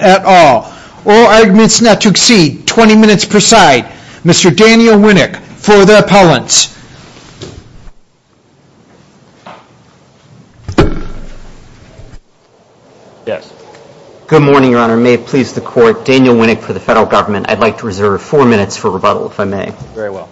at all. All arguments not to exceed 20 minutes per side. Mr. Daniel Winnick for the appellants. Yes. Good morning, your honor. May it please the court, Daniel Winnick for the federal government. I'd like to reserve four minutes for rebuttal, if I may. Very well.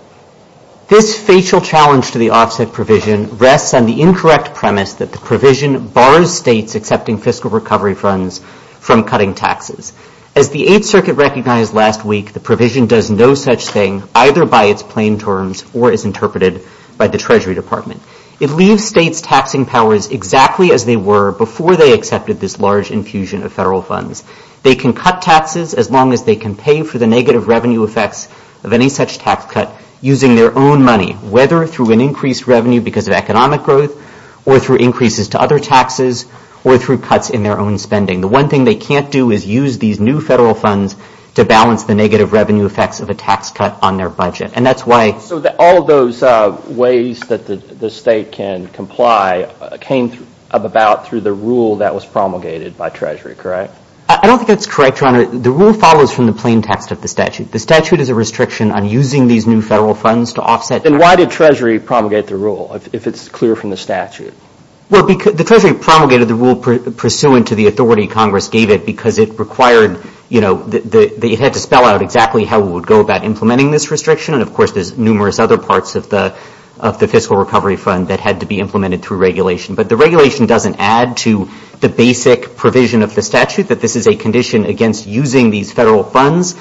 This facial challenge to the offset provision rests on the incorrect premise that the provision bars states accepting fiscal recovery funds from cutting taxes. As the Eighth Circuit recognized last week, the provision does no such thing, either by its plain terms or as interpreted by the Treasury Department. It leaves states taxing powers exactly as they were before they accepted this large infusion of federal funds. They can cut taxes as long as they can pay for the negative revenue effects of any such tax cut using their own money, whether through an increased revenue because of economic growth, or through increases to other taxes, or through cuts in their own spending. The one thing they can't do is use these new federal funds to balance the negative revenue effects of a tax cut on their budget. And that's why- So all of those ways that the state can comply came about through the rule that was promulgated by Treasury, correct? I don't think that's correct, Your Honor. The rule follows from the plain text of the statute. The statute is a restriction on using these new federal funds to offset- Then why did Treasury promulgate the rule, if it's clear from the statute? Well, the Treasury promulgated the rule pursuant to the authority Congress gave it because it required, you know, it had to spell out exactly how it would go about implementing this restriction. And, of course, there's numerous other parts of the fiscal recovery fund that had to be implemented through regulation. But the regulation doesn't add to the basic provision of the statute that this is a condition against using these federal funds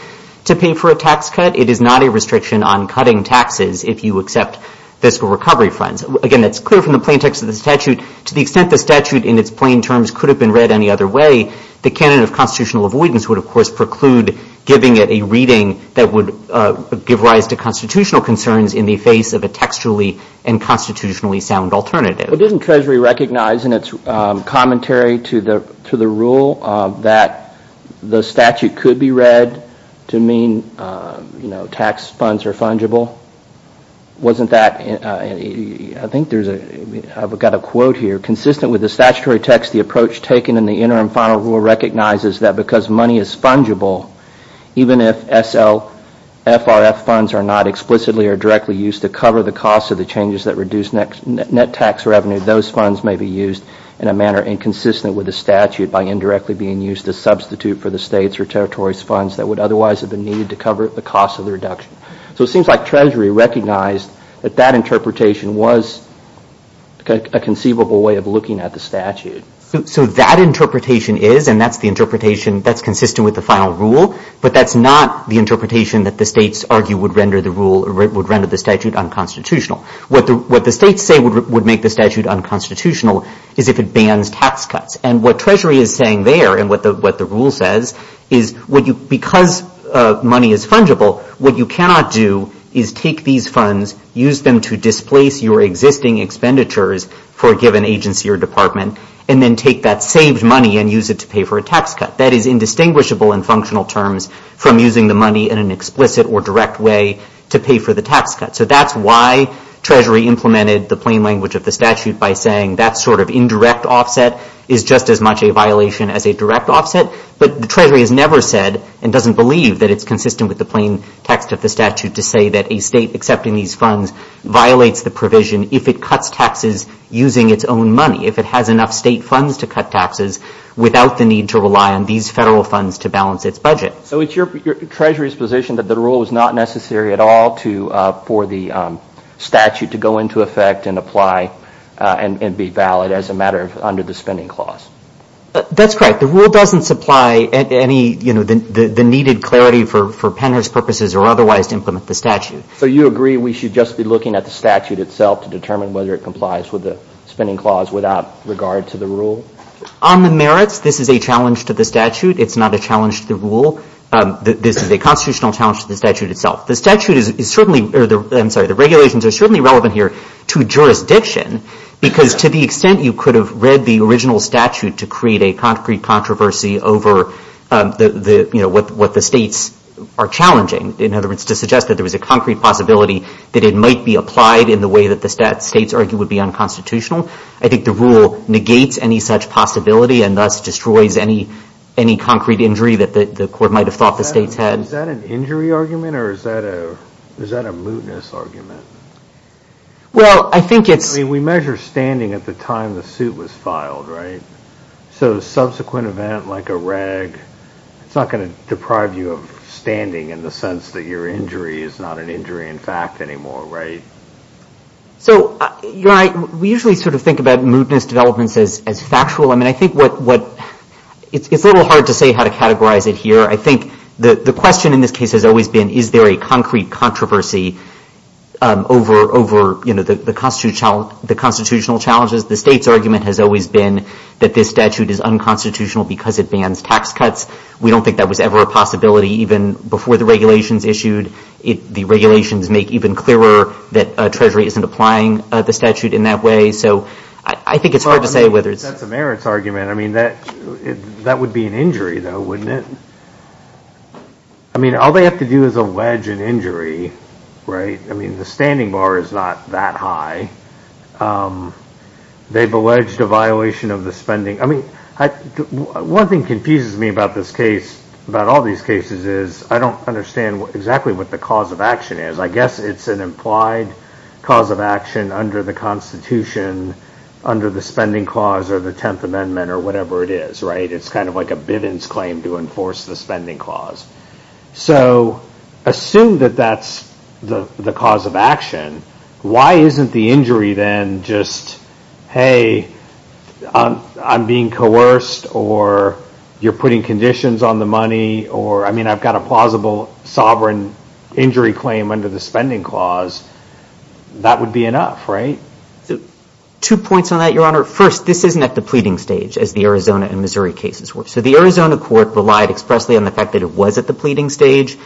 to pay for a tax cut. It is not a restriction on cutting taxes if you accept fiscal recovery funds. Again, that's clear from the plain text of the statute. To the extent the statute in its plain terms could have been read any other way, the canon of constitutional avoidance would, of course, preclude giving it a reading that would give rise to constitutional concerns in the face of a textually and constitutionally sound alternative. Well, didn't Treasury recognize in its commentary to the rule that the statute could be read to mean, you know, tax funds are fungible? Wasn't that- I think there's a- I've got a quote here. Consistent with the statutory text, the approach taken in the interim final rule recognizes that because money is fungible, even if SLFRF funds are not explicitly or be used in a manner inconsistent with the statute by indirectly being used to substitute for the state's or territory's funds that would otherwise have been needed to cover the cost of the reduction. So it seems like Treasury recognized that that interpretation was a conceivable way of looking at the statute. So that interpretation is, and that's the interpretation that's consistent with the final rule, but that's not the interpretation that the states argue would render the rule- What the states say would make the statute unconstitutional is if it bans tax cuts. And what Treasury is saying there, and what the rule says, is because money is fungible, what you cannot do is take these funds, use them to displace your existing expenditures for a given agency or department, and then take that saved money and use it to pay for a tax cut. That is indistinguishable in functional terms from using the money in an explicit or direct way to pay for the tax cut. So that's why Treasury implemented the plain language of the statute by saying that sort of indirect offset is just as much a violation as a direct offset. But the Treasury has never said and doesn't believe that it's consistent with the plain text of the statute to say that a state accepting these funds violates the provision if it cuts taxes using its own money, if it has enough state funds to cut taxes without the need to rely on these federal funds to balance its budget. So it's Treasury's position that the rule is not necessary at all for the statute to go into effect and apply and be valid as a matter under the spending clause? That's correct. The rule doesn't supply any, you know, the needed clarity for PENR's purposes or otherwise to implement the statute. So you agree we should just be looking at the statute itself to determine whether it On the merits, this is a challenge to the statute. It's not a challenge to the rule. This is a constitutional challenge to the statute itself. The statute is certainly, or I'm sorry, the regulations are certainly relevant here to jurisdiction because to the extent you could have read the original statute to create a concrete controversy over the, you know, what the states are challenging, in other words, to suggest that there was a concrete possibility that it might be applied in the way that the states argue would be and thus destroys any concrete injury that the court might have thought the states had. Is that an injury argument or is that a mootness argument? Well, I think it's... I mean, we measure standing at the time the suit was filed, right? So subsequent event like a rag, it's not going to deprive you of standing in the sense that your injury is not an injury in fact anymore, right? So, you know, we usually sort of think about mootness developments as factual. I mean, I think what... It's a little hard to say how to categorize it here. I think the question in this case has always been, is there a concrete controversy over, you know, the constitutional challenges? The state's argument has always been that this statute is unconstitutional because it bans tax cuts. We don't think that was ever a possibility even before the regulations issued. The regulations make even clearer that Treasury isn't applying the statute in that way. So I think it's hard to say whether it's... That's a merits argument. I mean, that would be an injury though, wouldn't it? I mean, all they have to do is allege an injury, right? I mean, the standing bar is not that high. They've alleged a violation of the spending. I mean, one thing confuses me about this case, about all these cases, is I don't understand exactly what the cause of action is. I guess it's an implied cause of action under the Constitution, under the Spending Clause or the 10th Amendment or whatever it is, right? It's kind of like a Bivens claim to enforce the Spending Clause. So assume that that's the cause of action. Why isn't the injury then just, hey, I'm being coerced or you're putting conditions on the money or whatever I mean, I've got a plausible sovereign injury claim under the Spending Clause. That would be enough, right? Two points on that, Your Honor. First, this isn't at the pleading stage as the Arizona and Missouri cases were. So the Arizona court relied expressly on the fact that it was at the pleading stage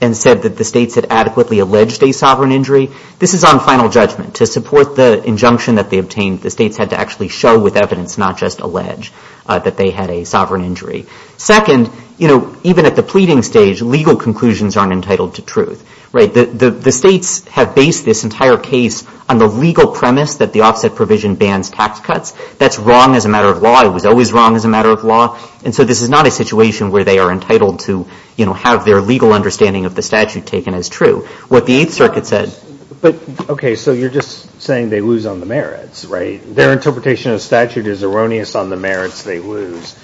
and said that the states had adequately alleged a sovereign injury. This is on final judgment. To support the injunction that they obtained, the states had to actually show with evidence, not just allege that they had a sovereign injury. Second, even at the pleading stage, legal conclusions aren't entitled to truth. The states have based this entire case on the legal premise that the offset provision bans tax cuts. That's wrong as a matter of law. It was always wrong as a matter of law. And so this is not a situation where they are entitled to have their legal understanding of the statute taken as true. What the Eighth Circuit said But, okay, so you're just saying they lose on the merits, right? Their interpretation of the statute is erroneous on the merits they lose.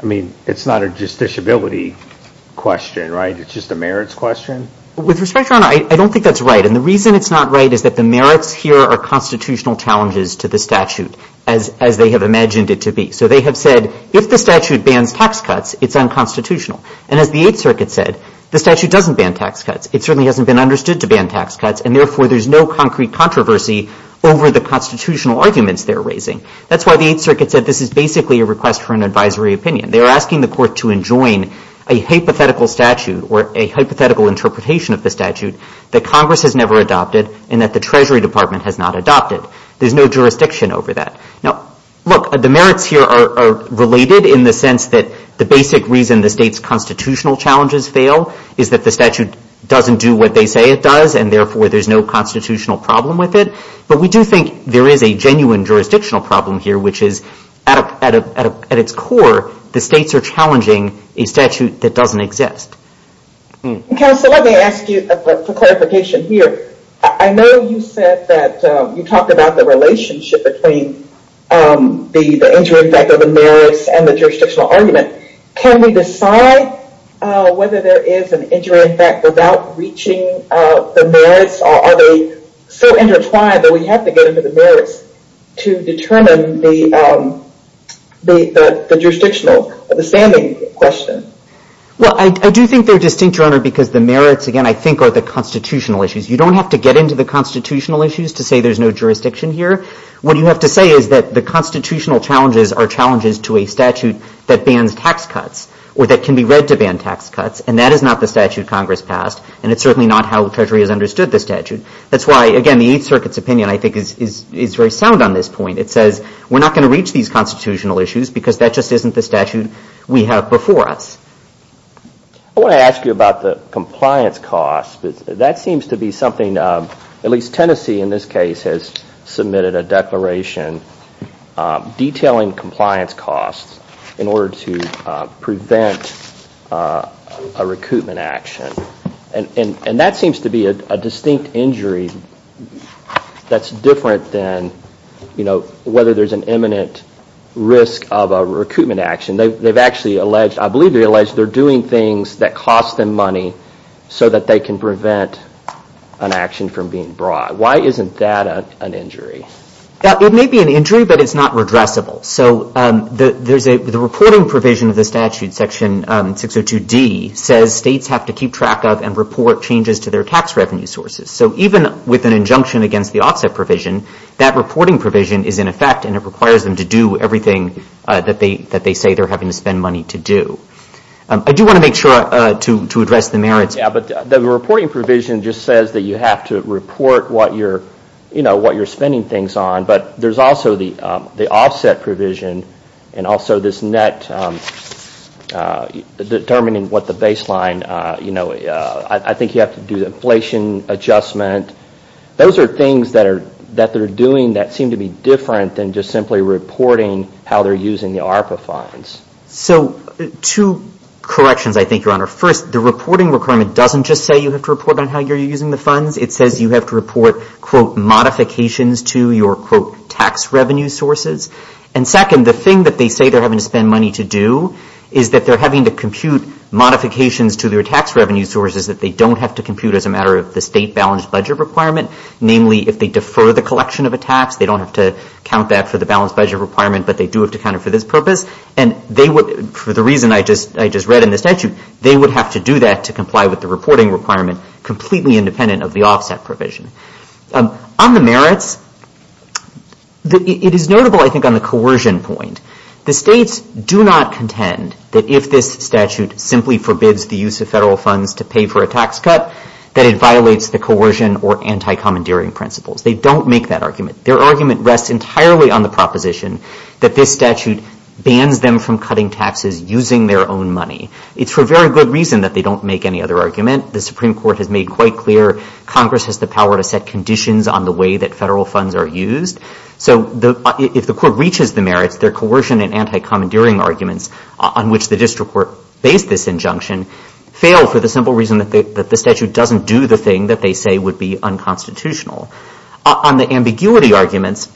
I mean, it's not a justiciability question, right? It's just a merits question? With respect, Your Honor, I don't think that's right. And the reason it's not right is that the merits here are constitutional challenges to the statute as they have imagined it to be. So they have said, if the statute bans tax cuts, it's unconstitutional. And as the Eighth Circuit said, the statute doesn't ban tax cuts. It certainly hasn't been understood to ban tax cuts. And therefore, there's no is basically a request for an advisory opinion. They are asking the Court to enjoin a hypothetical statute or a hypothetical interpretation of the statute that Congress has never adopted and that the Treasury Department has not adopted. There's no jurisdiction over that. Now, look, the merits here are related in the sense that the basic reason the State's constitutional challenges fail is that the statute doesn't do what they say it does. And therefore, there's no constitutional problem with it. But we do think there is a genuine jurisdictional problem here, which is, at its core, the States are challenging a statute that doesn't exist. Counsel, let me ask you for clarification here. I know you said that you talked about the relationship between the injury effect of the merits and the jurisdictional argument. Can we decide whether there is an injury effect without reaching the merits? Or are they so to determine the jurisdictional, the standing question? Well, I do think they're distinct, Your Honor, because the merits, again, I think are the constitutional issues. You don't have to get into the constitutional issues to say there's no jurisdiction here. What you have to say is that the constitutional challenges are challenges to a statute that bans tax cuts or that can be read to ban tax cuts. And that is not the statute Congress passed. And it's certainly not how the Treasury has understood the statute. That's why, again, the Eighth Circuit's opinion, I think, is very sound on this point. It says we're not going to reach these constitutional issues because that just isn't the statute we have before us. I want to ask you about the compliance costs. That seems to be something, at least Tennessee in this case has submitted a declaration detailing compliance costs in order to prevent a recoupment action. And that seems to be a distinct injury that's different than, you know, whether there's an imminent risk of a recoupment action. They've actually alleged, I believe they allege, they're doing things that cost them money so that they can prevent an action from being brought. Why isn't that an injury? It may be an injury, but it's not redressable. So the reporting provision of the statute, section 602D, says states have to keep track of and report changes to their tax revenue sources. So even with an injunction against the offset provision, that reporting provision is in effect and it requires them to do everything that they say they're having to spend money to do. I do want to make sure to address the merits. Yeah, but the reporting provision just says that you have to report what you're, you know, determining what the baseline, you know, I think you have to do the inflation adjustment. Those are things that they're doing that seem to be different than just simply reporting how they're using the ARPA funds. So two corrections, I think, Your Honor. First, the reporting requirement doesn't just say you have to report on how you're using the funds. It says you have to report, quote, modifications to your, quote, tax revenue sources. And second, the thing that they say they're having to spend money to do is that they're having to compute modifications to their tax revenue sources that they don't have to compute as a matter of the state balanced budget requirement. Namely, if they defer the collection of a tax, they don't have to count that for the balanced budget requirement, but they do have to count it for this purpose. And they would, for the reason I just read in the statute, they would have to do that to comply with the reporting requirement completely independent of the offset provision. On the merits, it is notable, I think, on the coercion point. The states do not contend that if this statute simply forbids the use of federal funds to pay for a tax cut, that it violates the coercion or anti-commandeering principles. They don't make that argument. Their argument rests entirely on the proposition that this statute bans them from cutting taxes using their own money. It's for very good reason that they don't make any other argument. The Supreme Court has made quite clear Congress has the power to set conditions on the way that federal funds are used. So if the court reaches the merits, their coercion and anti-commandeering arguments on which the district court based this injunction fail for the simple reason that the statute doesn't do the thing that they say would be unconstitutional. On the ambiguity arguments,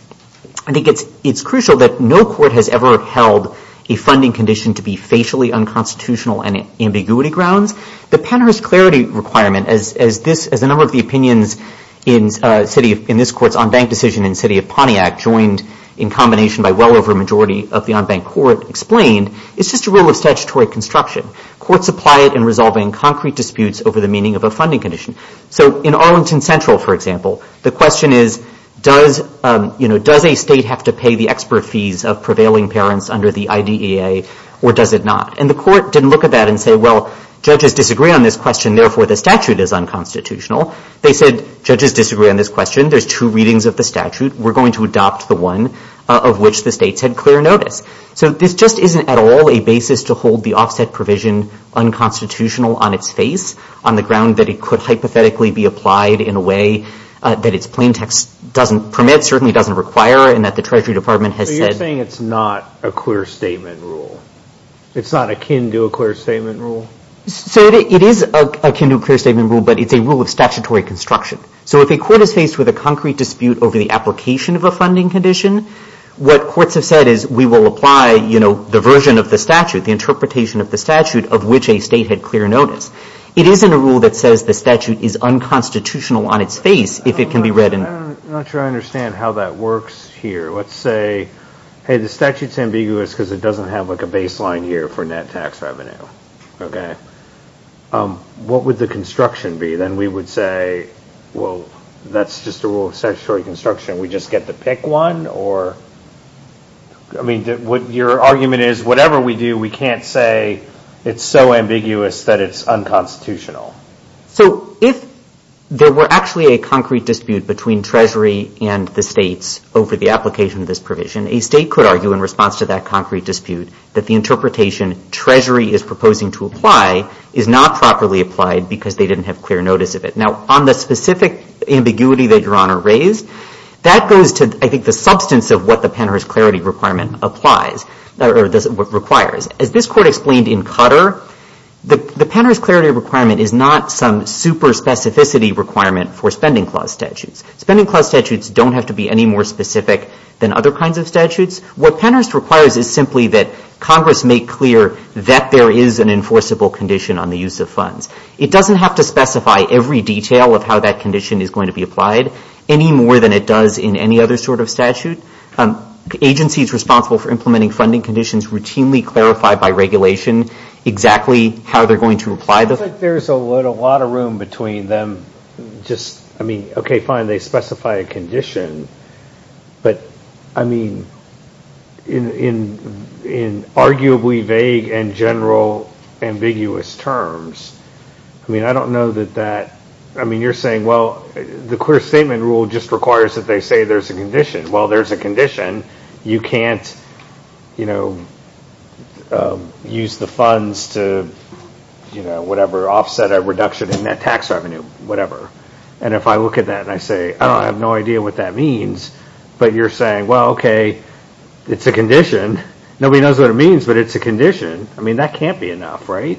I think it's crucial that no court has ever held a funding condition to be facially unconstitutional and ambiguity grounds. The Pennhurst Clarity Requirement, as a number of the opinions in this court's on-bank decision in the City of Pontiac, joined in combination by well over a majority of the on-bank court, explained, is just a rule of statutory construction. Courts apply it in resolving concrete disputes over the meaning of a funding condition. So in Arlington Central, for example, the question is, does a state have to pay the or does it not? And the court didn't look at that and say, well, judges disagree on this question. Therefore, the statute is unconstitutional. They said, judges disagree on this question. There's two readings of the statute. We're going to adopt the one of which the states had clear notice. So this just isn't at all a basis to hold the offset provision unconstitutional on its face on the ground that it could hypothetically be applied in a way that its plaintext doesn't permit, certainly doesn't require, and that the Treasury Department has said. So you're saying it's not a clear statement rule? It's not akin to a clear statement rule? So it is akin to a clear statement rule, but it's a rule of statutory construction. So if a court is faced with a concrete dispute over the application of a funding condition, what courts have said is, we will apply, you know, the version of the statute, the interpretation of the statute of which a state had clear notice. It isn't a rule that says the statute is unconstitutional on its face if it can be read in. I'm not sure I understand how that works here. Let's say, hey, the statute's ambiguous because it doesn't have like a baseline here for net tax revenue. Okay. What would the construction be? Then we would say, well, that's just a rule of statutory construction. We just get to pick one? Or, I mean, what your argument is, whatever we do, we can't say it's so ambiguous that it's unconstitutional. So if there were actually a concrete dispute between Treasury and the states over the application of this provision, a state could argue in response to that concrete dispute that the interpretation Treasury is proposing to apply is not properly applied because they didn't have clear notice of it. Now, on the specific ambiguity that Your Honor raised, that goes to, I think, the substance of what the Pennars Clarity Requirement applies or requires. As this Court explained in Cutter, the Pennars Clarity Requirement is not some super specificity requirement for spending clause statutes. Spending clause statutes don't have to be any more specific than other kinds of statutes. What Pennars requires is simply that Congress make clear that there is an enforceable condition on the use of funds. It doesn't have to specify every detail of how that condition is going to be applied any more than it does in any other sort of statute. The agency is responsible for implementing funding conditions routinely clarified by regulation exactly how they're going to apply them. I think there's a lot of room between them just, I mean, okay, fine, they specify a condition, but I mean, in arguably vague and general ambiguous terms, I mean, I don't know that that, I mean, you're saying, well, the clear statement rule just requires that they say there's a condition. Well, there's a condition. You can't, you know, use the funds to, you know, whatever, offset a reduction in that tax revenue, whatever. And if I look at that and I say, I have no idea what that means, but you're saying, well, okay, it's a condition. Nobody knows what it means, but it's a condition. I mean, that can't be enough, right?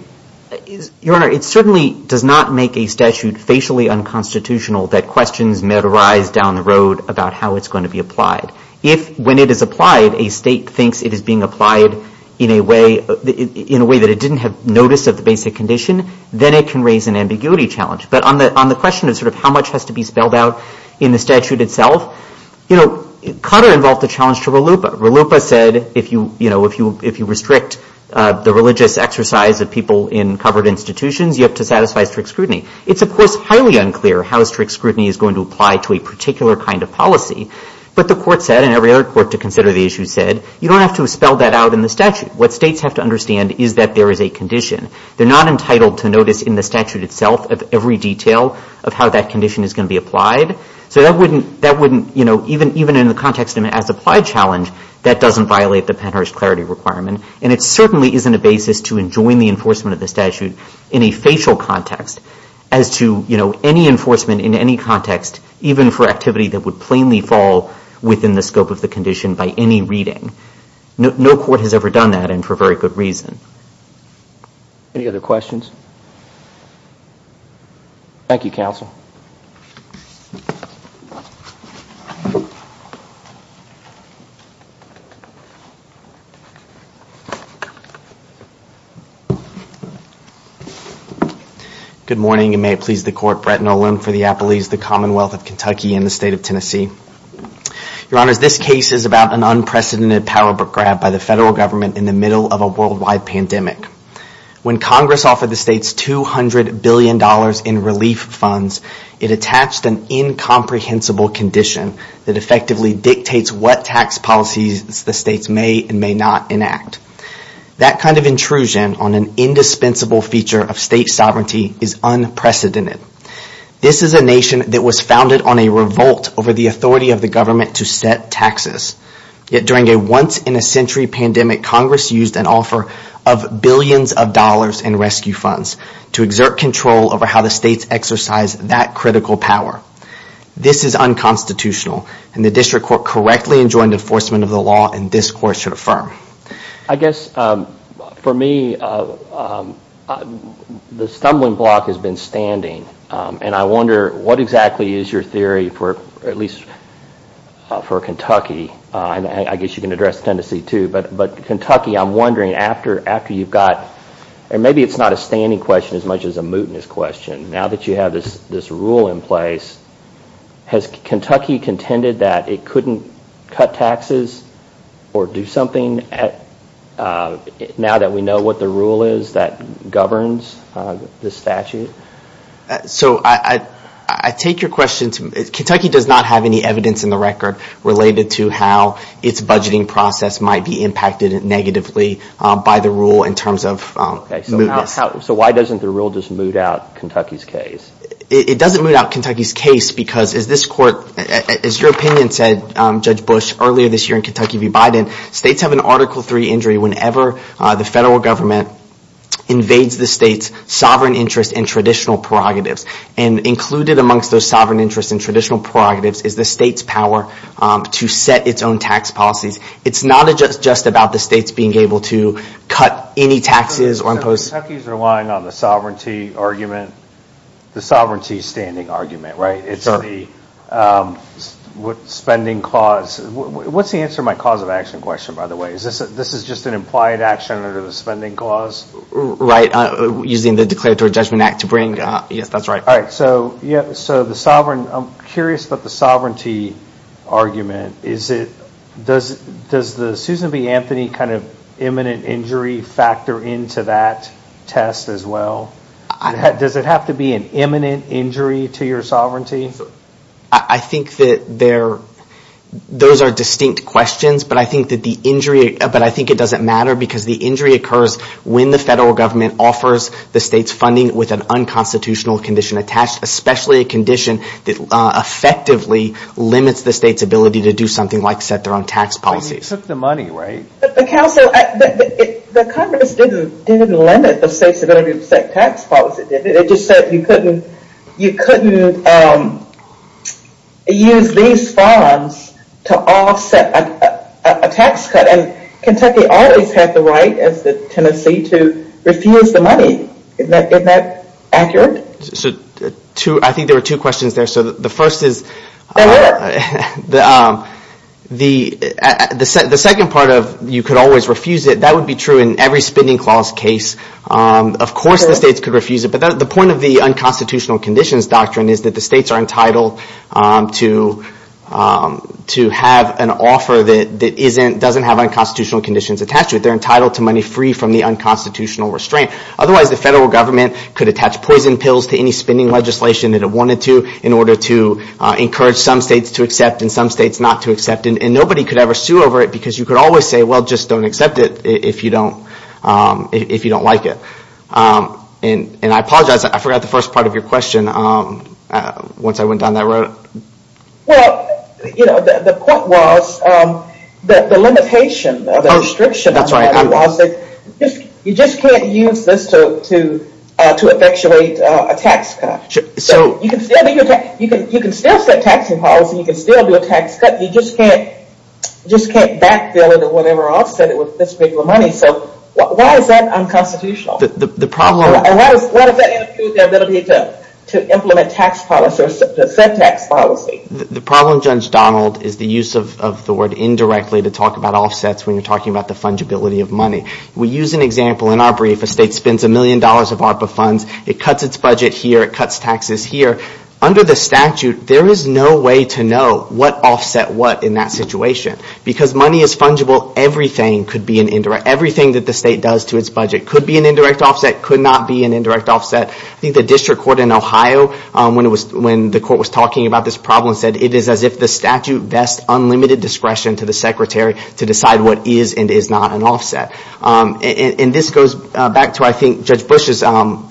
Your Honor, it certainly does not make a statute facially unconstitutional that questions met replies down the road about how it's going to be applied. If, when it is applied, a state thinks it is being applied in a way that it didn't have notice of the basic condition, then it can raise an ambiguity challenge. But on the question of sort of how much has to be spelled out in the statute itself, you know, Carter involved a challenge to RLUIPA. RLUIPA said if you, you know, if you restrict the religious exercise of people in covered institutions, you have to satisfy strict scrutiny. It's, of course, highly unclear how strict scrutiny is going to apply to a particular kind of policy. But the Court said, and every other Court to consider the issue said, you don't have to spell that out in the statute. What states have to understand is that there is a condition. They're not entitled to notice in the statute itself of every detail of how that condition is going to be applied. So that wouldn't, you know, even in the context of an as-applied challenge, that doesn't violate the Penn-Harris Clarity Requirement. And it certainly isn't a basis to enjoin the enforcement of the statute in a facial context as to, you know, any enforcement in any context, even for activity that would plainly fall within the scope of the condition by any reading. No Court has ever done that, and for very good reason. Any other questions? Thank you, Counsel. Good morning, and may it please the Court, Brett Nolan for the Appellees, the Commonwealth of Kentucky, and the State of Tennessee. Your Honors, this case is about an unprecedented power grab by the federal government in the middle of a worldwide pandemic. When Congress offered the states $200 billion in relief funds, it attached an incomprehensible condition that effectively dictates what tax policies the states may and may not enact. That kind of intrusion on an indispensable feature of state sovereignty is unprecedented. This is a nation that was founded on a revolt over the authority of the government to set taxes. Yet during a once-in-a-century pandemic, Congress used an offer of billions of dollars in rescue funds to exert control over how the states exercise that critical power. This is unconstitutional, and the District Court correctly enjoined enforcement of the law, and this Court should affirm. I guess for me, the stumbling block has been standing, and I wonder what exactly is your theory for, at least for Kentucky, and I guess you can address Tennessee too, but Kentucky, I'm wondering after you've got, and maybe it's not a standing question as much as a mootness question, now that you have this rule in place, has Kentucky contended that it couldn't cut taxes or do something now that we know what the rule is that governs the statute? So I take your question to, Kentucky does not have any evidence in the record related to how its budgeting process might be impacted negatively by the rule in terms of mootness. So why doesn't the rule just moot out Kentucky's case? It doesn't moot out Kentucky's case because, as this Court, as your opinion said, Judge Bush, earlier this year in Kentucky v. Biden, states have an Article III injury whenever the federal government invades the state's sovereign interest and traditional prerogatives, and included amongst those sovereign interests and traditional prerogatives is the state's power to set its own tax policies. It's not just about the states being able to cut any taxes or impose... So Kentucky's relying on the sovereignty argument, the sovereignty standing argument, right? It's the spending clause. What's the answer to my cause of action question, by the way? This is just an implied action under the spending clause? Right, using the Declaratory Judgment Act to bring... Yes, that's right. All right, so the sovereign, I'm curious about the sovereignty argument. Does the Susan B. Test as well, does it have to be an imminent injury to your sovereignty? I think that those are distinct questions, but I think that the injury, but I think it doesn't matter because the injury occurs when the federal government offers the state's funding with an unconstitutional condition attached, especially a condition that effectively limits the state's ability to do something like set their own tax policies. Except the money, right? But the council, the Congress didn't limit the state's ability to set tax policies, it just said you couldn't use these funds to offset a tax cut. And Kentucky always had the right, as did Tennessee, to refuse the money. Isn't that accurate? So I think there were two questions there. So the first is, the second part of you could always refuse it, that would be true in every spending clause case. Of course the states could refuse it, but the point of the unconstitutional conditions doctrine is that the states are entitled to have an offer that doesn't have unconstitutional conditions attached to it. They're entitled to money free from the unconstitutional restraint. Otherwise, the federal government could attach poison pills to any spending legislation that it wanted to in order to encourage some states to accept and some states not to accept. And nobody could ever sue over it because you could always say, well, just don't accept it if you don't like it. And I apologize, I forgot the first part of your question once I went down that road. Well, you know, the point was that the limitation, the restriction, you just can't use this to effectuate a tax cut. You can still set taxing policy, you can still do a tax cut, you just can't backfill it or offset it with this big of a money. So why is that unconstitutional? And why does that interfere with their ability to implement tax policy or set tax policy? The problem, Judge Donald, is the use of the word indirectly to talk about offsets when you're talking about the fungibility of money. We use an example in our brief, a state spends a million dollars of ARPA funds, it cuts its budget here, it cuts taxes here. Under the statute, there is no way to know what offset what in that situation. Because money is fungible, everything could be an indirect, everything that the state does to its budget could be an indirect offset, could not be an indirect offset. I think the district court in Ohio when the court was talking about this problem said it is as if the statute vests unlimited discretion to the secretary to decide what is and is not an offset. And this goes back to, I think, Judge Bush's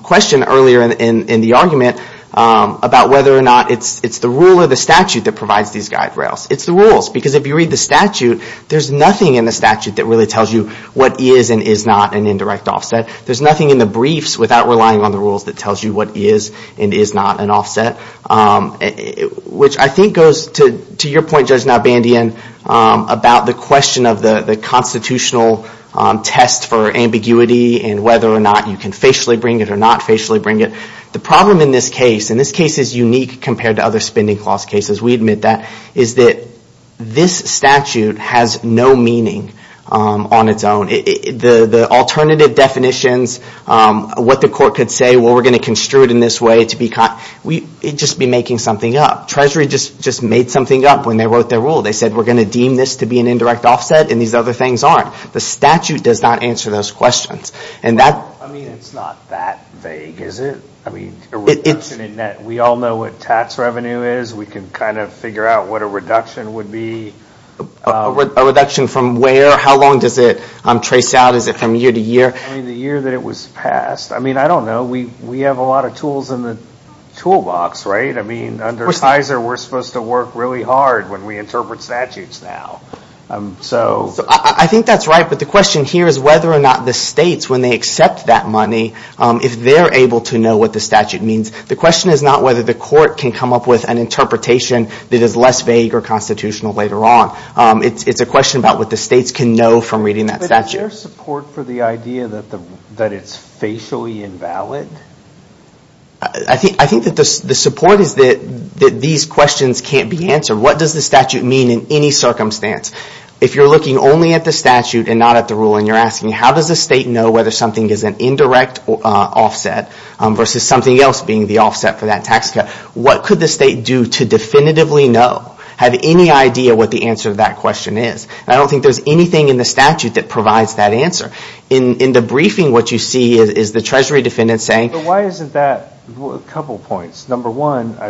question earlier in the argument about whether or not it's the rule or the statute that provides these guide rails. It's the rules. Because if you read the statute, there's nothing in the statute that really tells you what is and is not an indirect offset. There's nothing in the briefs without relying on the rules that tells you what is and is not an offset. Which I think goes to your point, Judge Nowbandian, about the question of the constitutional test for ambiguity and whether or not you can facially bring it or not facially bring it. The problem in this case, and this case is unique compared to other spending clause cases, we admit that, is that this statute has no meaning on its own. The alternative definitions, what the court could say, well, we're going to construe it in this way to be, it would just be making something up. Treasury just made something up when they wrote their rule. They said, we're going to deem this to be an indirect offset and these other things aren't. The statute does not answer those questions. I mean, it's not that vague, is it? I mean, we all know what tax revenue is. We can kind of figure out what a reduction would be. A reduction from where? How long does it trace out? Is it from year to year? I mean, the year that it was passed. I mean, I don't know. We have a lot of tools in the toolbox, right? I mean, under FISA, we're supposed to work really hard when we interpret statutes now. I think that's right, but the question here is whether or not the states, when they accept that money, if they're able to know what the statute means. The question is not whether the court can come up with an interpretation that is less vague or constitutional later on. It's a question about what the states can know from reading that statute. But is there support for the idea that it's facially invalid? I think that the support is that these questions can't be answered. What does the statute mean in any circumstance? If you're looking only at the statute and not at the rule and you're asking how does the state know whether something is an indirect offset versus something else being the offset for that tax cut, what could the state do to definitively know, have any idea what the answer to that question is? I don't think there's anything in the statute that provides that answer. In the briefing, what you see is the treasury defendant saying... Why isn't that... A couple of points. Number one, I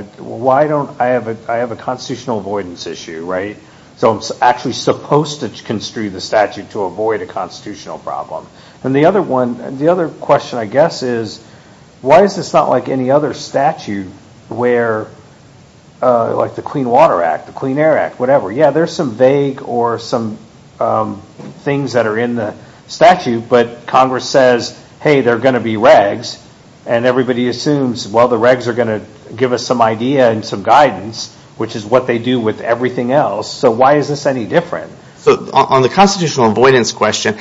have a constitutional avoidance issue, so I'm actually supposed to construe the statute to avoid a constitutional problem. The other question, I guess, is why is this not like any other statute where, like the Clean Water Act, the Clean Air Act, whatever. Yeah, there's some vague or some things that are in the way, they're going to be regs, and everybody assumes, well, the regs are going to give us some idea and some guidance, which is what they do with everything else. Why is this any different? On the constitutional avoidance question,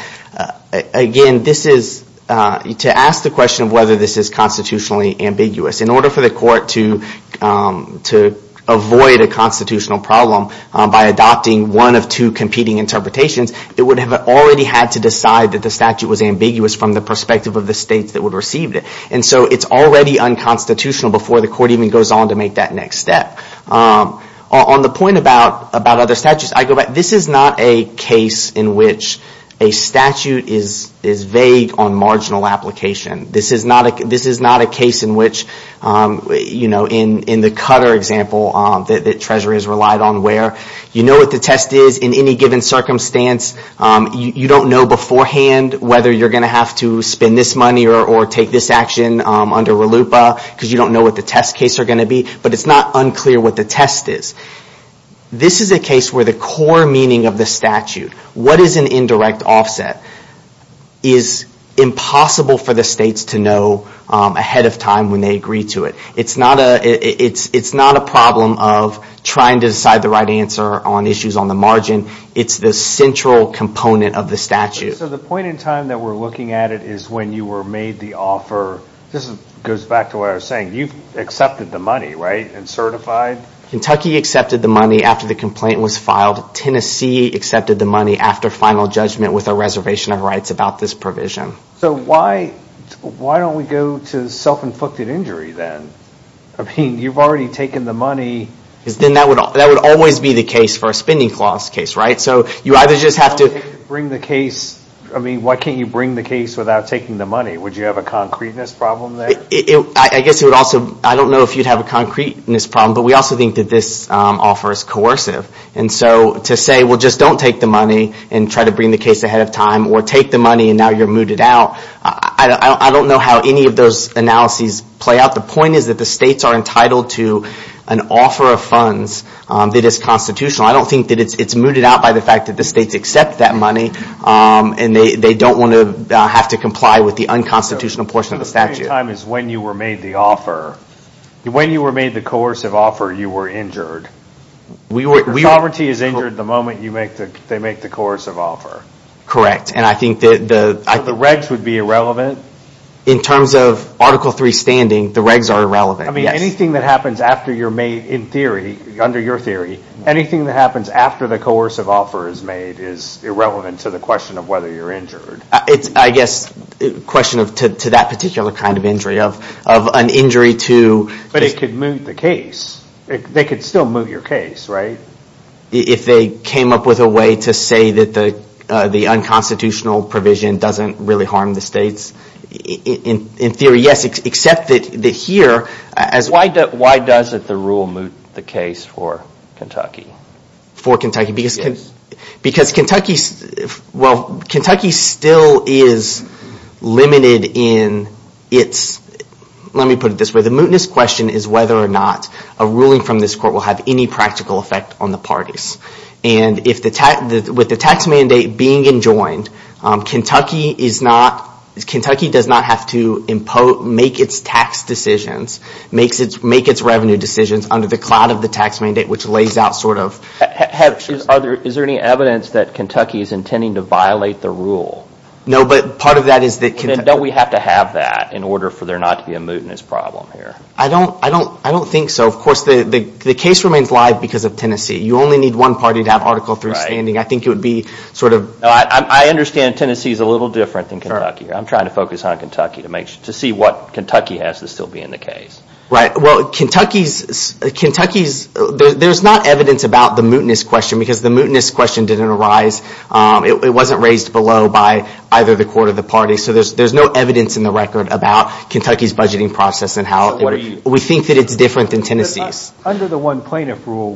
again, this is... To ask the question of whether this is constitutionally ambiguous, in order for the court to avoid a constitutional problem by adopting one of two competing interpretations, it would have already had to decide that the states that would receive it, and so it's already unconstitutional before the court even goes on to make that next step. On the point about other statutes, I go back... This is not a case in which a statute is vague on marginal application. This is not a case in which, in the Cutter example, the treasury has relied on where. You know what the test is in any given circumstance. You don't know beforehand whether you're going to have to spend this money or take this action under RLUIPA, because you don't know what the test case are going to be, but it's not unclear what the test is. This is a case where the core meaning of the statute, what is an indirect offset, is impossible for the states to know ahead of time when they agree to it. It's not a problem of trying to decide the right answer on issues on the margin. It's the central component of the statute. The point in time that we're looking at it is when you were made the offer. This goes back to what I was saying. You've accepted the money, right, and certified? Kentucky accepted the money after the complaint was filed. Tennessee accepted the money after final judgment with a reservation of rights about this provision. Why don't we go to self-inflicted injury then? You've already taken the money. That would always be the case for a spending clause case, right? You either just have to... Why can't you bring the case without taking the money? Would you have a concreteness problem there? I don't know if you'd have a concreteness problem, but we also think that this offer is coercive. To say, well, just don't take the money and try to bring the case ahead of time, or take the money and now you're mooted out, I don't know how any of those analyses play out. The point is that the states are entitled to an offer of funds that is constitutional. I don't think that it's mooted out by the fact that the states accept that money, and they don't want to have to comply with the unconstitutional portion of the statute. The point in time is when you were made the offer. When you were made the coercive offer, you were injured. Sovereignty is injured the moment they make the coercive offer. Correct, and I think that... The regs would be irrelevant? Anything that happens after you're made, in theory, under your theory, anything that happens after the coercive offer is made is irrelevant to the question of whether you're injured. I guess it's a question to that particular kind of injury, of an injury to... But it could moot the case. They could still moot your case, right? If they came up with a way to say that the unconstitutional provision doesn't really Why does the rule moot the case for Kentucky? For Kentucky? Because Kentucky still is limited in its... Let me put it this way. The mootness question is whether or not a ruling from this court will have any practical effect on the parties, and with the tax mandate being enjoined, Kentucky does not have to make its tax decisions, make its revenue decisions under the cloud of the tax mandate, which lays out sort of... Is there any evidence that Kentucky is intending to violate the rule? No, but part of that is that... Then don't we have to have that in order for there not to be a mootness problem here? I don't think so. Of course, the case remains live because of Tennessee. You only need one party to have Article III standing. I think it would be sort of... I understand Tennessee is a little different than Kentucky. I'm trying to focus on Kentucky to see what Kentucky has to still be in the case. Right. Well, Kentucky's... There's not evidence about the mootness question because the mootness question didn't arise. It wasn't raised below by either the court or the party, so there's no evidence in the record about Kentucky's budgeting process and how we think that it's different than Tennessee's. Under the one plaintiff rule,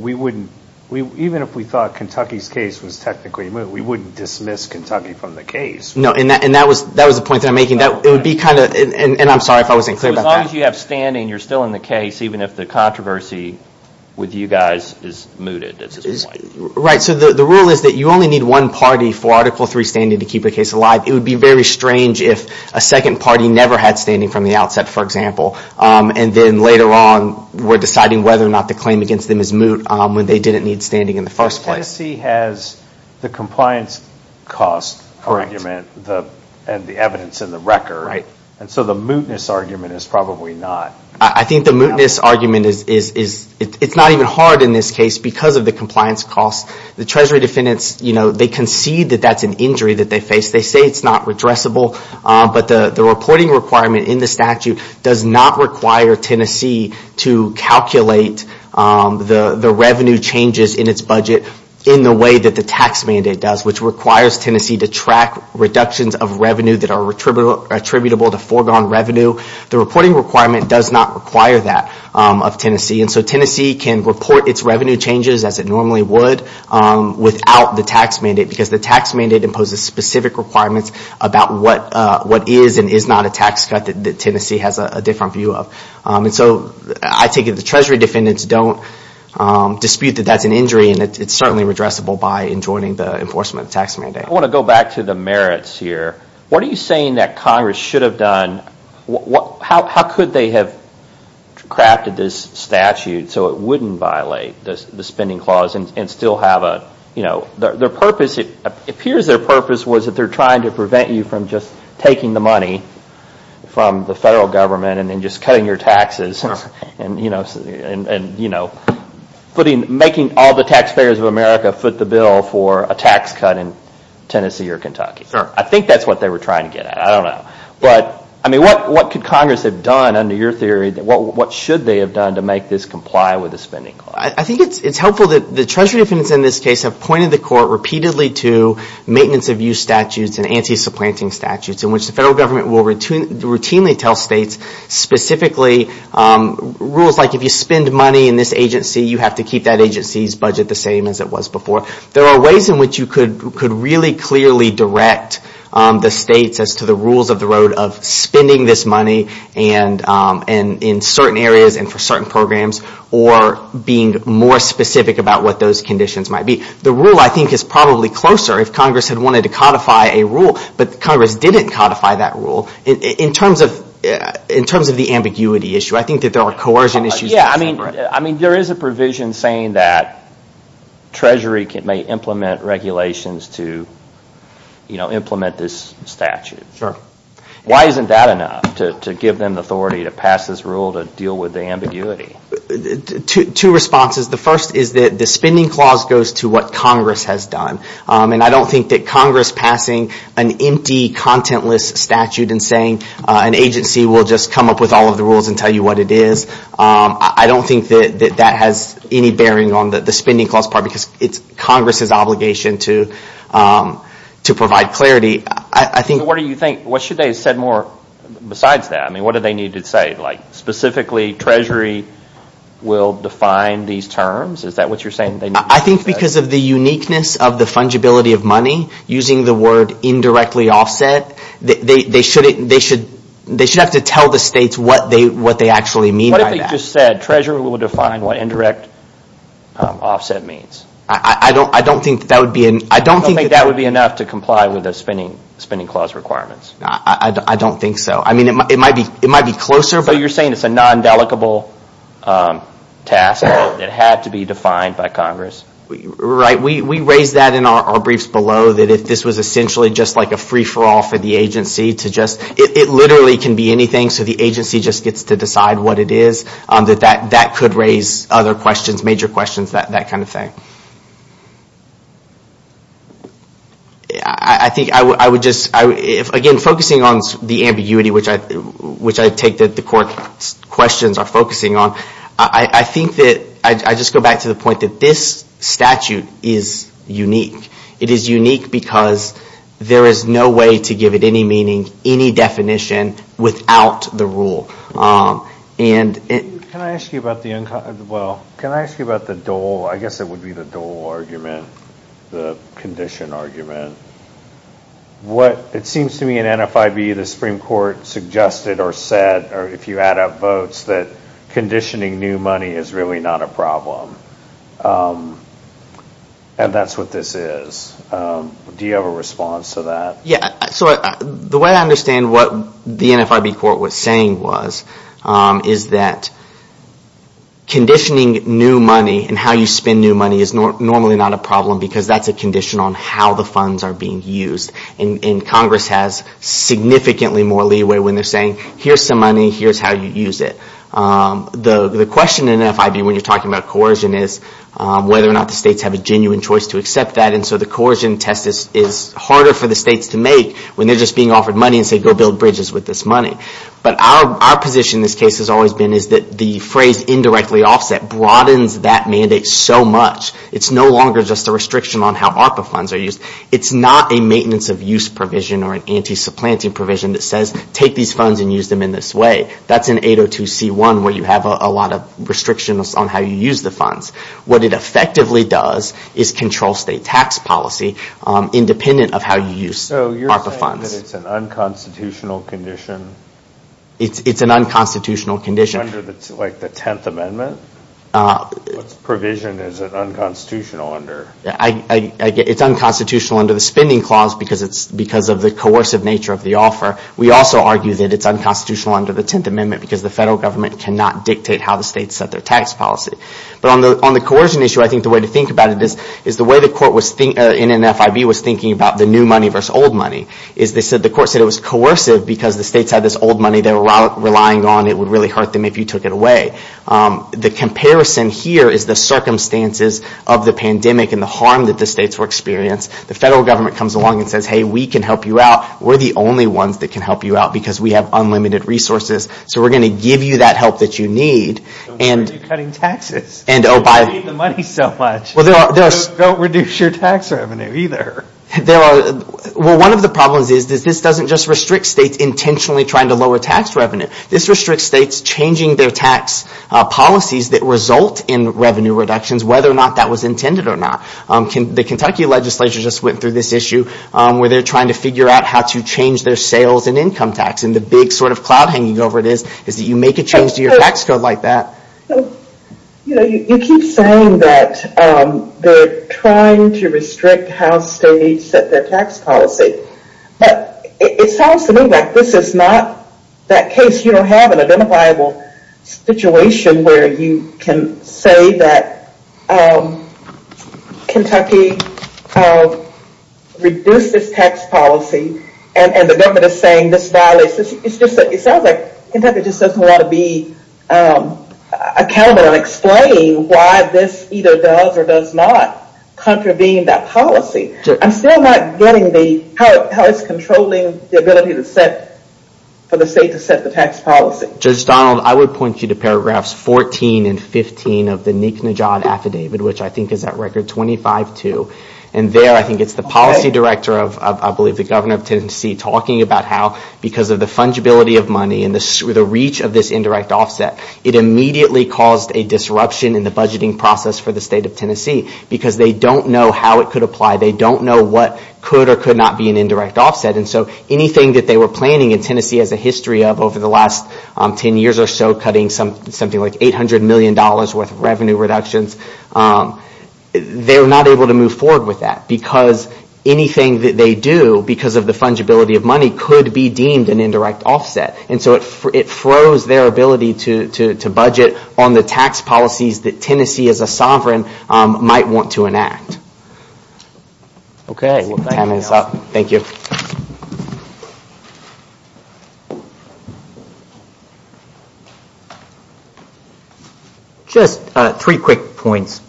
even if we thought Kentucky's case was technically moot, we wouldn't dismiss Kentucky from the case. No, and that was the point that I'm making. It would be kind of... I'm sorry if I wasn't clear about that. As long as you have standing, you're still in the case even if the controversy with you guys is mooted at this point. Right. The rule is that you only need one party for Article III standing to keep the case alive. It would be very strange if a second party never had standing from the outset, for example, and then later on we're deciding whether or not the claim against them is moot when they didn't need standing in the first place. Tennessee has the compliance cost argument and the evidence in the record, so the mootness argument is probably not... I think the mootness argument is... It's not even hard in this case because of the compliance cost. The Treasury defendants, they concede that that's an injury that they face. They say it's not redressable, but the reporting requirement in the statute does not require Tennessee to calculate the revenue changes in its budget in the way that the tax mandate does, which requires Tennessee to track reductions of revenue that are attributable to foregone revenue. The reporting requirement does not require that of Tennessee. Tennessee can report its revenue changes as it normally would without the tax mandate because the tax mandate imposes specific requirements about what is and is not a tax cut that Tennessee has a different view of. I take it the Treasury defendants don't dispute that that's an injury and it's certainly redressable by enjoining the enforcement of the tax mandate. I want to go back to the merits here. What are you saying that Congress should have done? How could they have crafted this statute so it wouldn't violate the spending clause and still have a... Their purpose, it appears their purpose was that they're trying to prevent you from just taking the money from the federal government and just cutting your taxes and making all the taxpayers of America foot the bill for a tax cut in Tennessee or Kentucky. I think that's what they were trying to get at. I don't know. What could Congress have done under your theory? What should they have done to make this comply with the spending clause? I think it's helpful that the Treasury defendants in this case have pointed the court repeatedly to maintenance of use statutes and anti-supplanting statutes in which the federal government will routinely tell states specifically rules like if you spend money in this agency, you have to keep that agency's budget the same as it was before. There are ways in which you could really clearly direct the states as to the rules of the road of spending this money and in certain areas and for certain programs or being more specific about what those conditions might be. The rule I think is probably closer if Congress had wanted to codify a rule, but Congress didn't codify that rule. In terms of the ambiguity issue, I think that there are coercion issues. There is a provision saying that Treasury may implement regulations to implement this statute. Why isn't that enough to give them the authority to pass this rule to deal with the ambiguity? Two responses. The first is that the spending clause goes to what Congress has done. I don't think that Congress passing an empty contentless statute and saying an agency will just come up with all of the rules and tell you what it is, I don't think that that has any bearing on the spending clause part because it's Congress' obligation to provide clarity. What should they have said more besides that? What do they need to say? Specifically, Treasury will define these terms? Is that what you're saying? I think because of the uniqueness of the fungibility of money, using the word indirectly offset, they should have to tell the states what they actually mean by that. What if they just said Treasury will define what indirect offset means? I don't think that would be enough to comply with the spending clause requirements. I don't think so. It might be closer. You're saying it's a non-dedicable task that had to be defined by Congress? We raised that in our briefs below that if this was essentially just like a free-for-all for the agency to just, it literally can be anything so the agency just gets to decide what it is, that that could raise other questions, major questions, that kind of thing. Again, focusing on the ambiguity, which I take that the court's questions are focusing on, I think that I just go back to the point that this statute is unique. It is unique because there is no way to give it any meaning, any definition, without the Can I ask you about the dole, I guess it would be the dole argument, the condition argument. It seems to me in NFIB the Supreme Court suggested or said, or if you add up votes, that conditioning new money is really not a problem. That's what this is. Do you have a response to that? The way I understand what the NFIB court was saying was, is that conditioning new money and how you spend new money is normally not a problem because that's a condition on how the funds are being used. Congress has significantly more leeway when they're saying, here's some money, here's how you use it. The question in NFIB when you're talking about coercion is whether or not the states have a genuine choice to accept that. The coercion test is harder for the states to make when they're just being offered money and say, go build bridges with this money. Our position in this case has always been that the phrase indirectly offset broadens that mandate so much. It's no longer just a restriction on how ARPA funds are used. It's not a maintenance of use provision or an anti-supplanting provision that says, take these funds and use them in this way. That's in 802c1 where you have a lot of restrictions on how you use the funds. What it effectively does is control state tax policy independent of how you use ARPA funds. So you're saying that it's an unconstitutional condition? It's an unconstitutional condition. Under the 10th Amendment, what provision is it unconstitutional under? It's unconstitutional under the spending clause because of the coercive nature of the offer. We also argue that it's unconstitutional under the 10th Amendment because the federal government cannot dictate how the states set their tax policy. On the coercion issue, I think the way to think about it is the way the court in NFIB was thinking about the new money versus old money. The court said it was coercive because the states had this old money they were relying on. It would really hurt them if you took it away. The comparison here is the circumstances of the pandemic and the harm that the states were experiencing. The federal government comes along and says, hey, we can help you out. We're the only ones that can help you out because we have unlimited resources. So we're going to give you that help that you need. Don't say you're cutting taxes. We need the money so much. Don't reduce your tax revenue either. One of the problems is that this doesn't just restrict states intentionally trying to lower tax revenue. This restricts states changing their tax policies that result in revenue reductions, whether or not that was intended or not. The Kentucky legislature just went through this issue where they're trying to figure out how to change their sales and income tax. The big cloud hanging over it is that you make a change to your tax code like that. You keep saying that they're trying to restrict how states set their tax policy. It sounds to me like this is not that case. You don't have an identifiable situation where you can say that Kentucky reduces tax policy and the government is saying this violates. It sounds like Kentucky just doesn't want to be accountable and explain why this either does or does not contravene that policy. I'm still not getting how it's controlling the ability for the state to set the tax policy. Judge Donald, I would point you to paragraphs 14 and 15 of the Neek Najad Affidavit, which I think is at record 25-2. There, I think it's the policy director of, I believe, the governor of Tennessee talking about how because of the fungibility of money and the reach of this indirect offset, it immediately caused a disruption in the budgeting process for the state of Tennessee because they don't know how it could apply. They don't know what could or could not be an indirect offset. Anything that they were planning in Tennessee has a history of over the last 10 years or so cutting something like $800 million worth of revenue reductions. They were not able to move forward with that because anything that they do because of the fungibility of money could be deemed an indirect offset. It froze their ability to budget on the tax policies that Tennessee as a sovereign might want to enact. Okay. Time is up. Thank you. Just three quick points.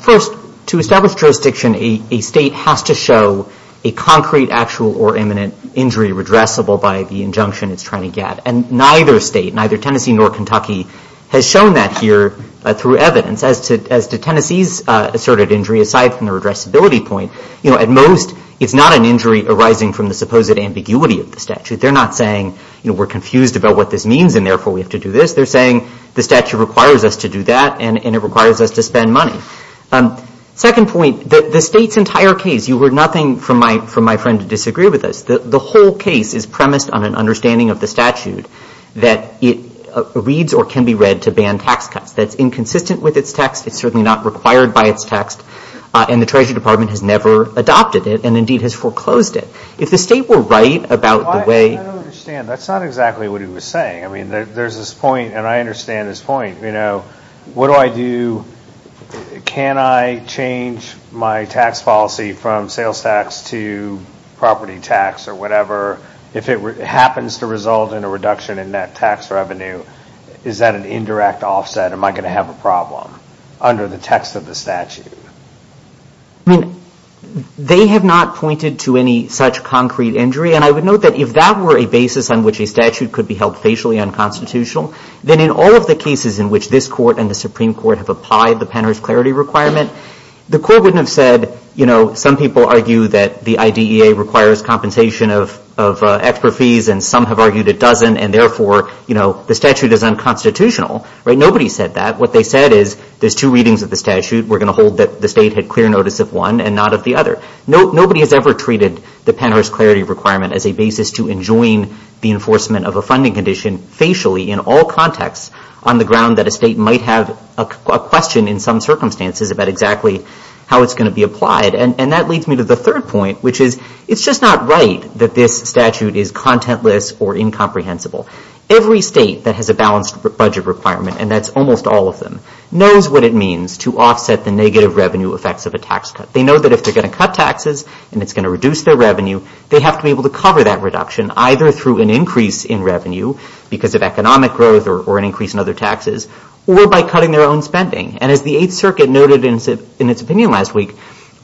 First, to establish jurisdiction, a state has to show a concrete, actual, or imminent injury redressable by the injunction it's trying to get. Neither state, neither Tennessee nor Kentucky, has shown that here through evidence. As to Tennessee's asserted injury, aside from the redressability point, at most it's not an injury arising from the supposed ambiguity of the statute. They're not saying we're confused about what this means and therefore we have to do this. They're saying the statute requires us to do that and it requires us to spend money. Second point, the state's entire case, you heard nothing from my friend to disagree with us. The whole case is premised on an understanding of the statute that it reads or can be read to ban tax cuts. That's inconsistent with its text. It's certainly not required by its text. And the Treasury Department has never adopted it and indeed has foreclosed it. If the state were right about the way... I don't understand. That's not exactly what he was saying. I mean, there's this point, and I understand his point. You know, what do I do, can I change my tax policy from sales tax to property tax or whatever if it happens to result in a reduction in net tax revenue? Is that an indirect offset? Am I going to have a problem under the text of the statute? I mean, they have not pointed to any such concrete injury. And I would note that if that were a basis on which a statute could be held facially unconstitutional, then in all of the cases in which this Court and the Supreme Court have applied the Penner's clarity requirement, the Court wouldn't have said, you know, some people argue that the IDEA requires compensation of extra fees and some have argued it doesn't and therefore, you know, the statute is unconstitutional. Nobody said that. What they said is there's two readings of the statute. We're going to hold that the state had clear notice of one and not of the other. Nobody has ever treated the Penner's clarity requirement as a basis to enjoin the enforcement of a funding condition facially in all contexts on the ground that a state might have a question in some circumstances about exactly how it's going to be applied. And that leads me to the third point, which is it's just not right that this statute is contentless or incomprehensible. Every state that has a balanced budget requirement, and that's almost all of them, knows what it means to offset the negative revenue effects of a tax cut. They know that if they're going to cut taxes and it's going to reduce their revenue, they have to be able to cover that reduction either through an increase in revenue because of economic growth or an increase in other taxes or by cutting their own spending. And as the Eighth Circuit noted in its opinion last week,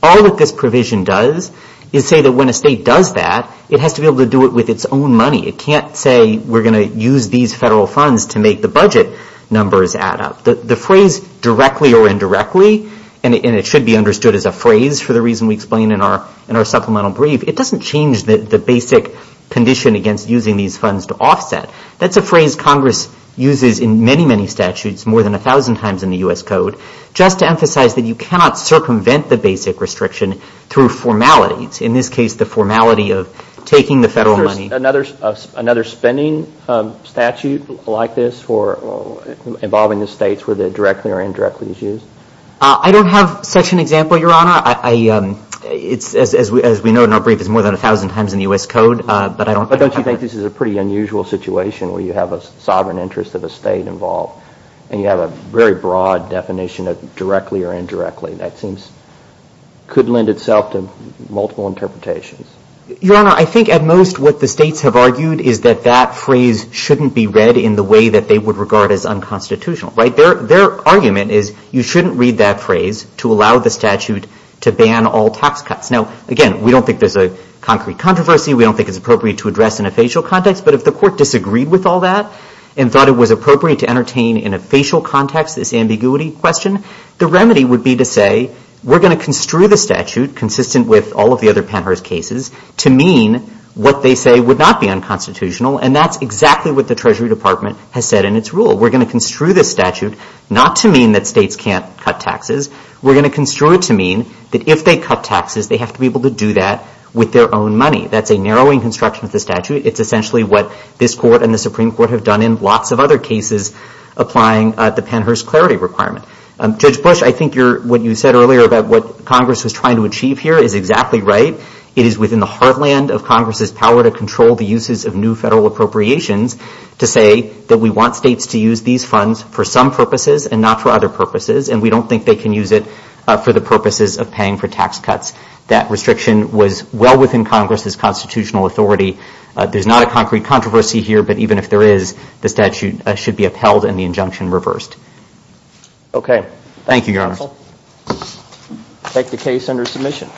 all that this provision does is say that when a state does that, it has to be able to do it with its own money. It can't say we're going to use these federal funds to make the budget numbers add up. The phrase directly or indirectly, and it should be understood as a phrase for the reason we explain in our supplemental brief, it doesn't change the basic condition against using these funds to offset. That's a phrase Congress uses in many, many statutes, more than a thousand times in the U.S. Code, just to emphasize that you cannot circumvent the basic restriction through formalities. In this case, the formality of taking the federal money. Is there another spending statute like this for involving the states where the directly or indirectly is used? I don't have such an example, Your Honor. It's, as we know in our brief, it's more than a thousand times in the U.S. Code. But don't you think this is a pretty unusual situation where you have a sovereign interest of a state involved and you have a very broad definition of directly or indirectly? That seems could lend itself to multiple interpretations. Your Honor, I think at most what the states have argued is that that phrase shouldn't be read in the way that they would regard as unconstitutional, right? Their argument is you shouldn't read that phrase to allow the statute to ban all tax cuts. Now, again, we don't think there's a concrete controversy. We don't think it's appropriate to address in a facial context. But if the Court disagreed with all that and thought it was appropriate to entertain in a facial context this ambiguity question, the remedy would be to say we're going to mean what they say would not be unconstitutional, and that's exactly what the Treasury Department has said in its rule. We're going to construe this statute not to mean that states can't cut taxes. We're going to construe it to mean that if they cut taxes, they have to be able to do that with their own money. That's a narrowing construction of the statute. It's essentially what this Court and the Supreme Court have done in lots of other cases applying the Pennhurst Clarity Requirement. Judge Bush, I think what you said earlier about what Congress was trying to achieve here is exactly right. It is within the heartland of Congress's power to control the uses of new federal appropriations to say that we want states to use these funds for some purposes and not for other purposes, and we don't think they can use it for the purposes of paying for tax cuts. That restriction was well within Congress's constitutional authority. There's not a concrete controversy here, but even if there is, the statute should be upheld and the injunction reversed. Okay. Thank you, Your Honor. I'll take the case under submission.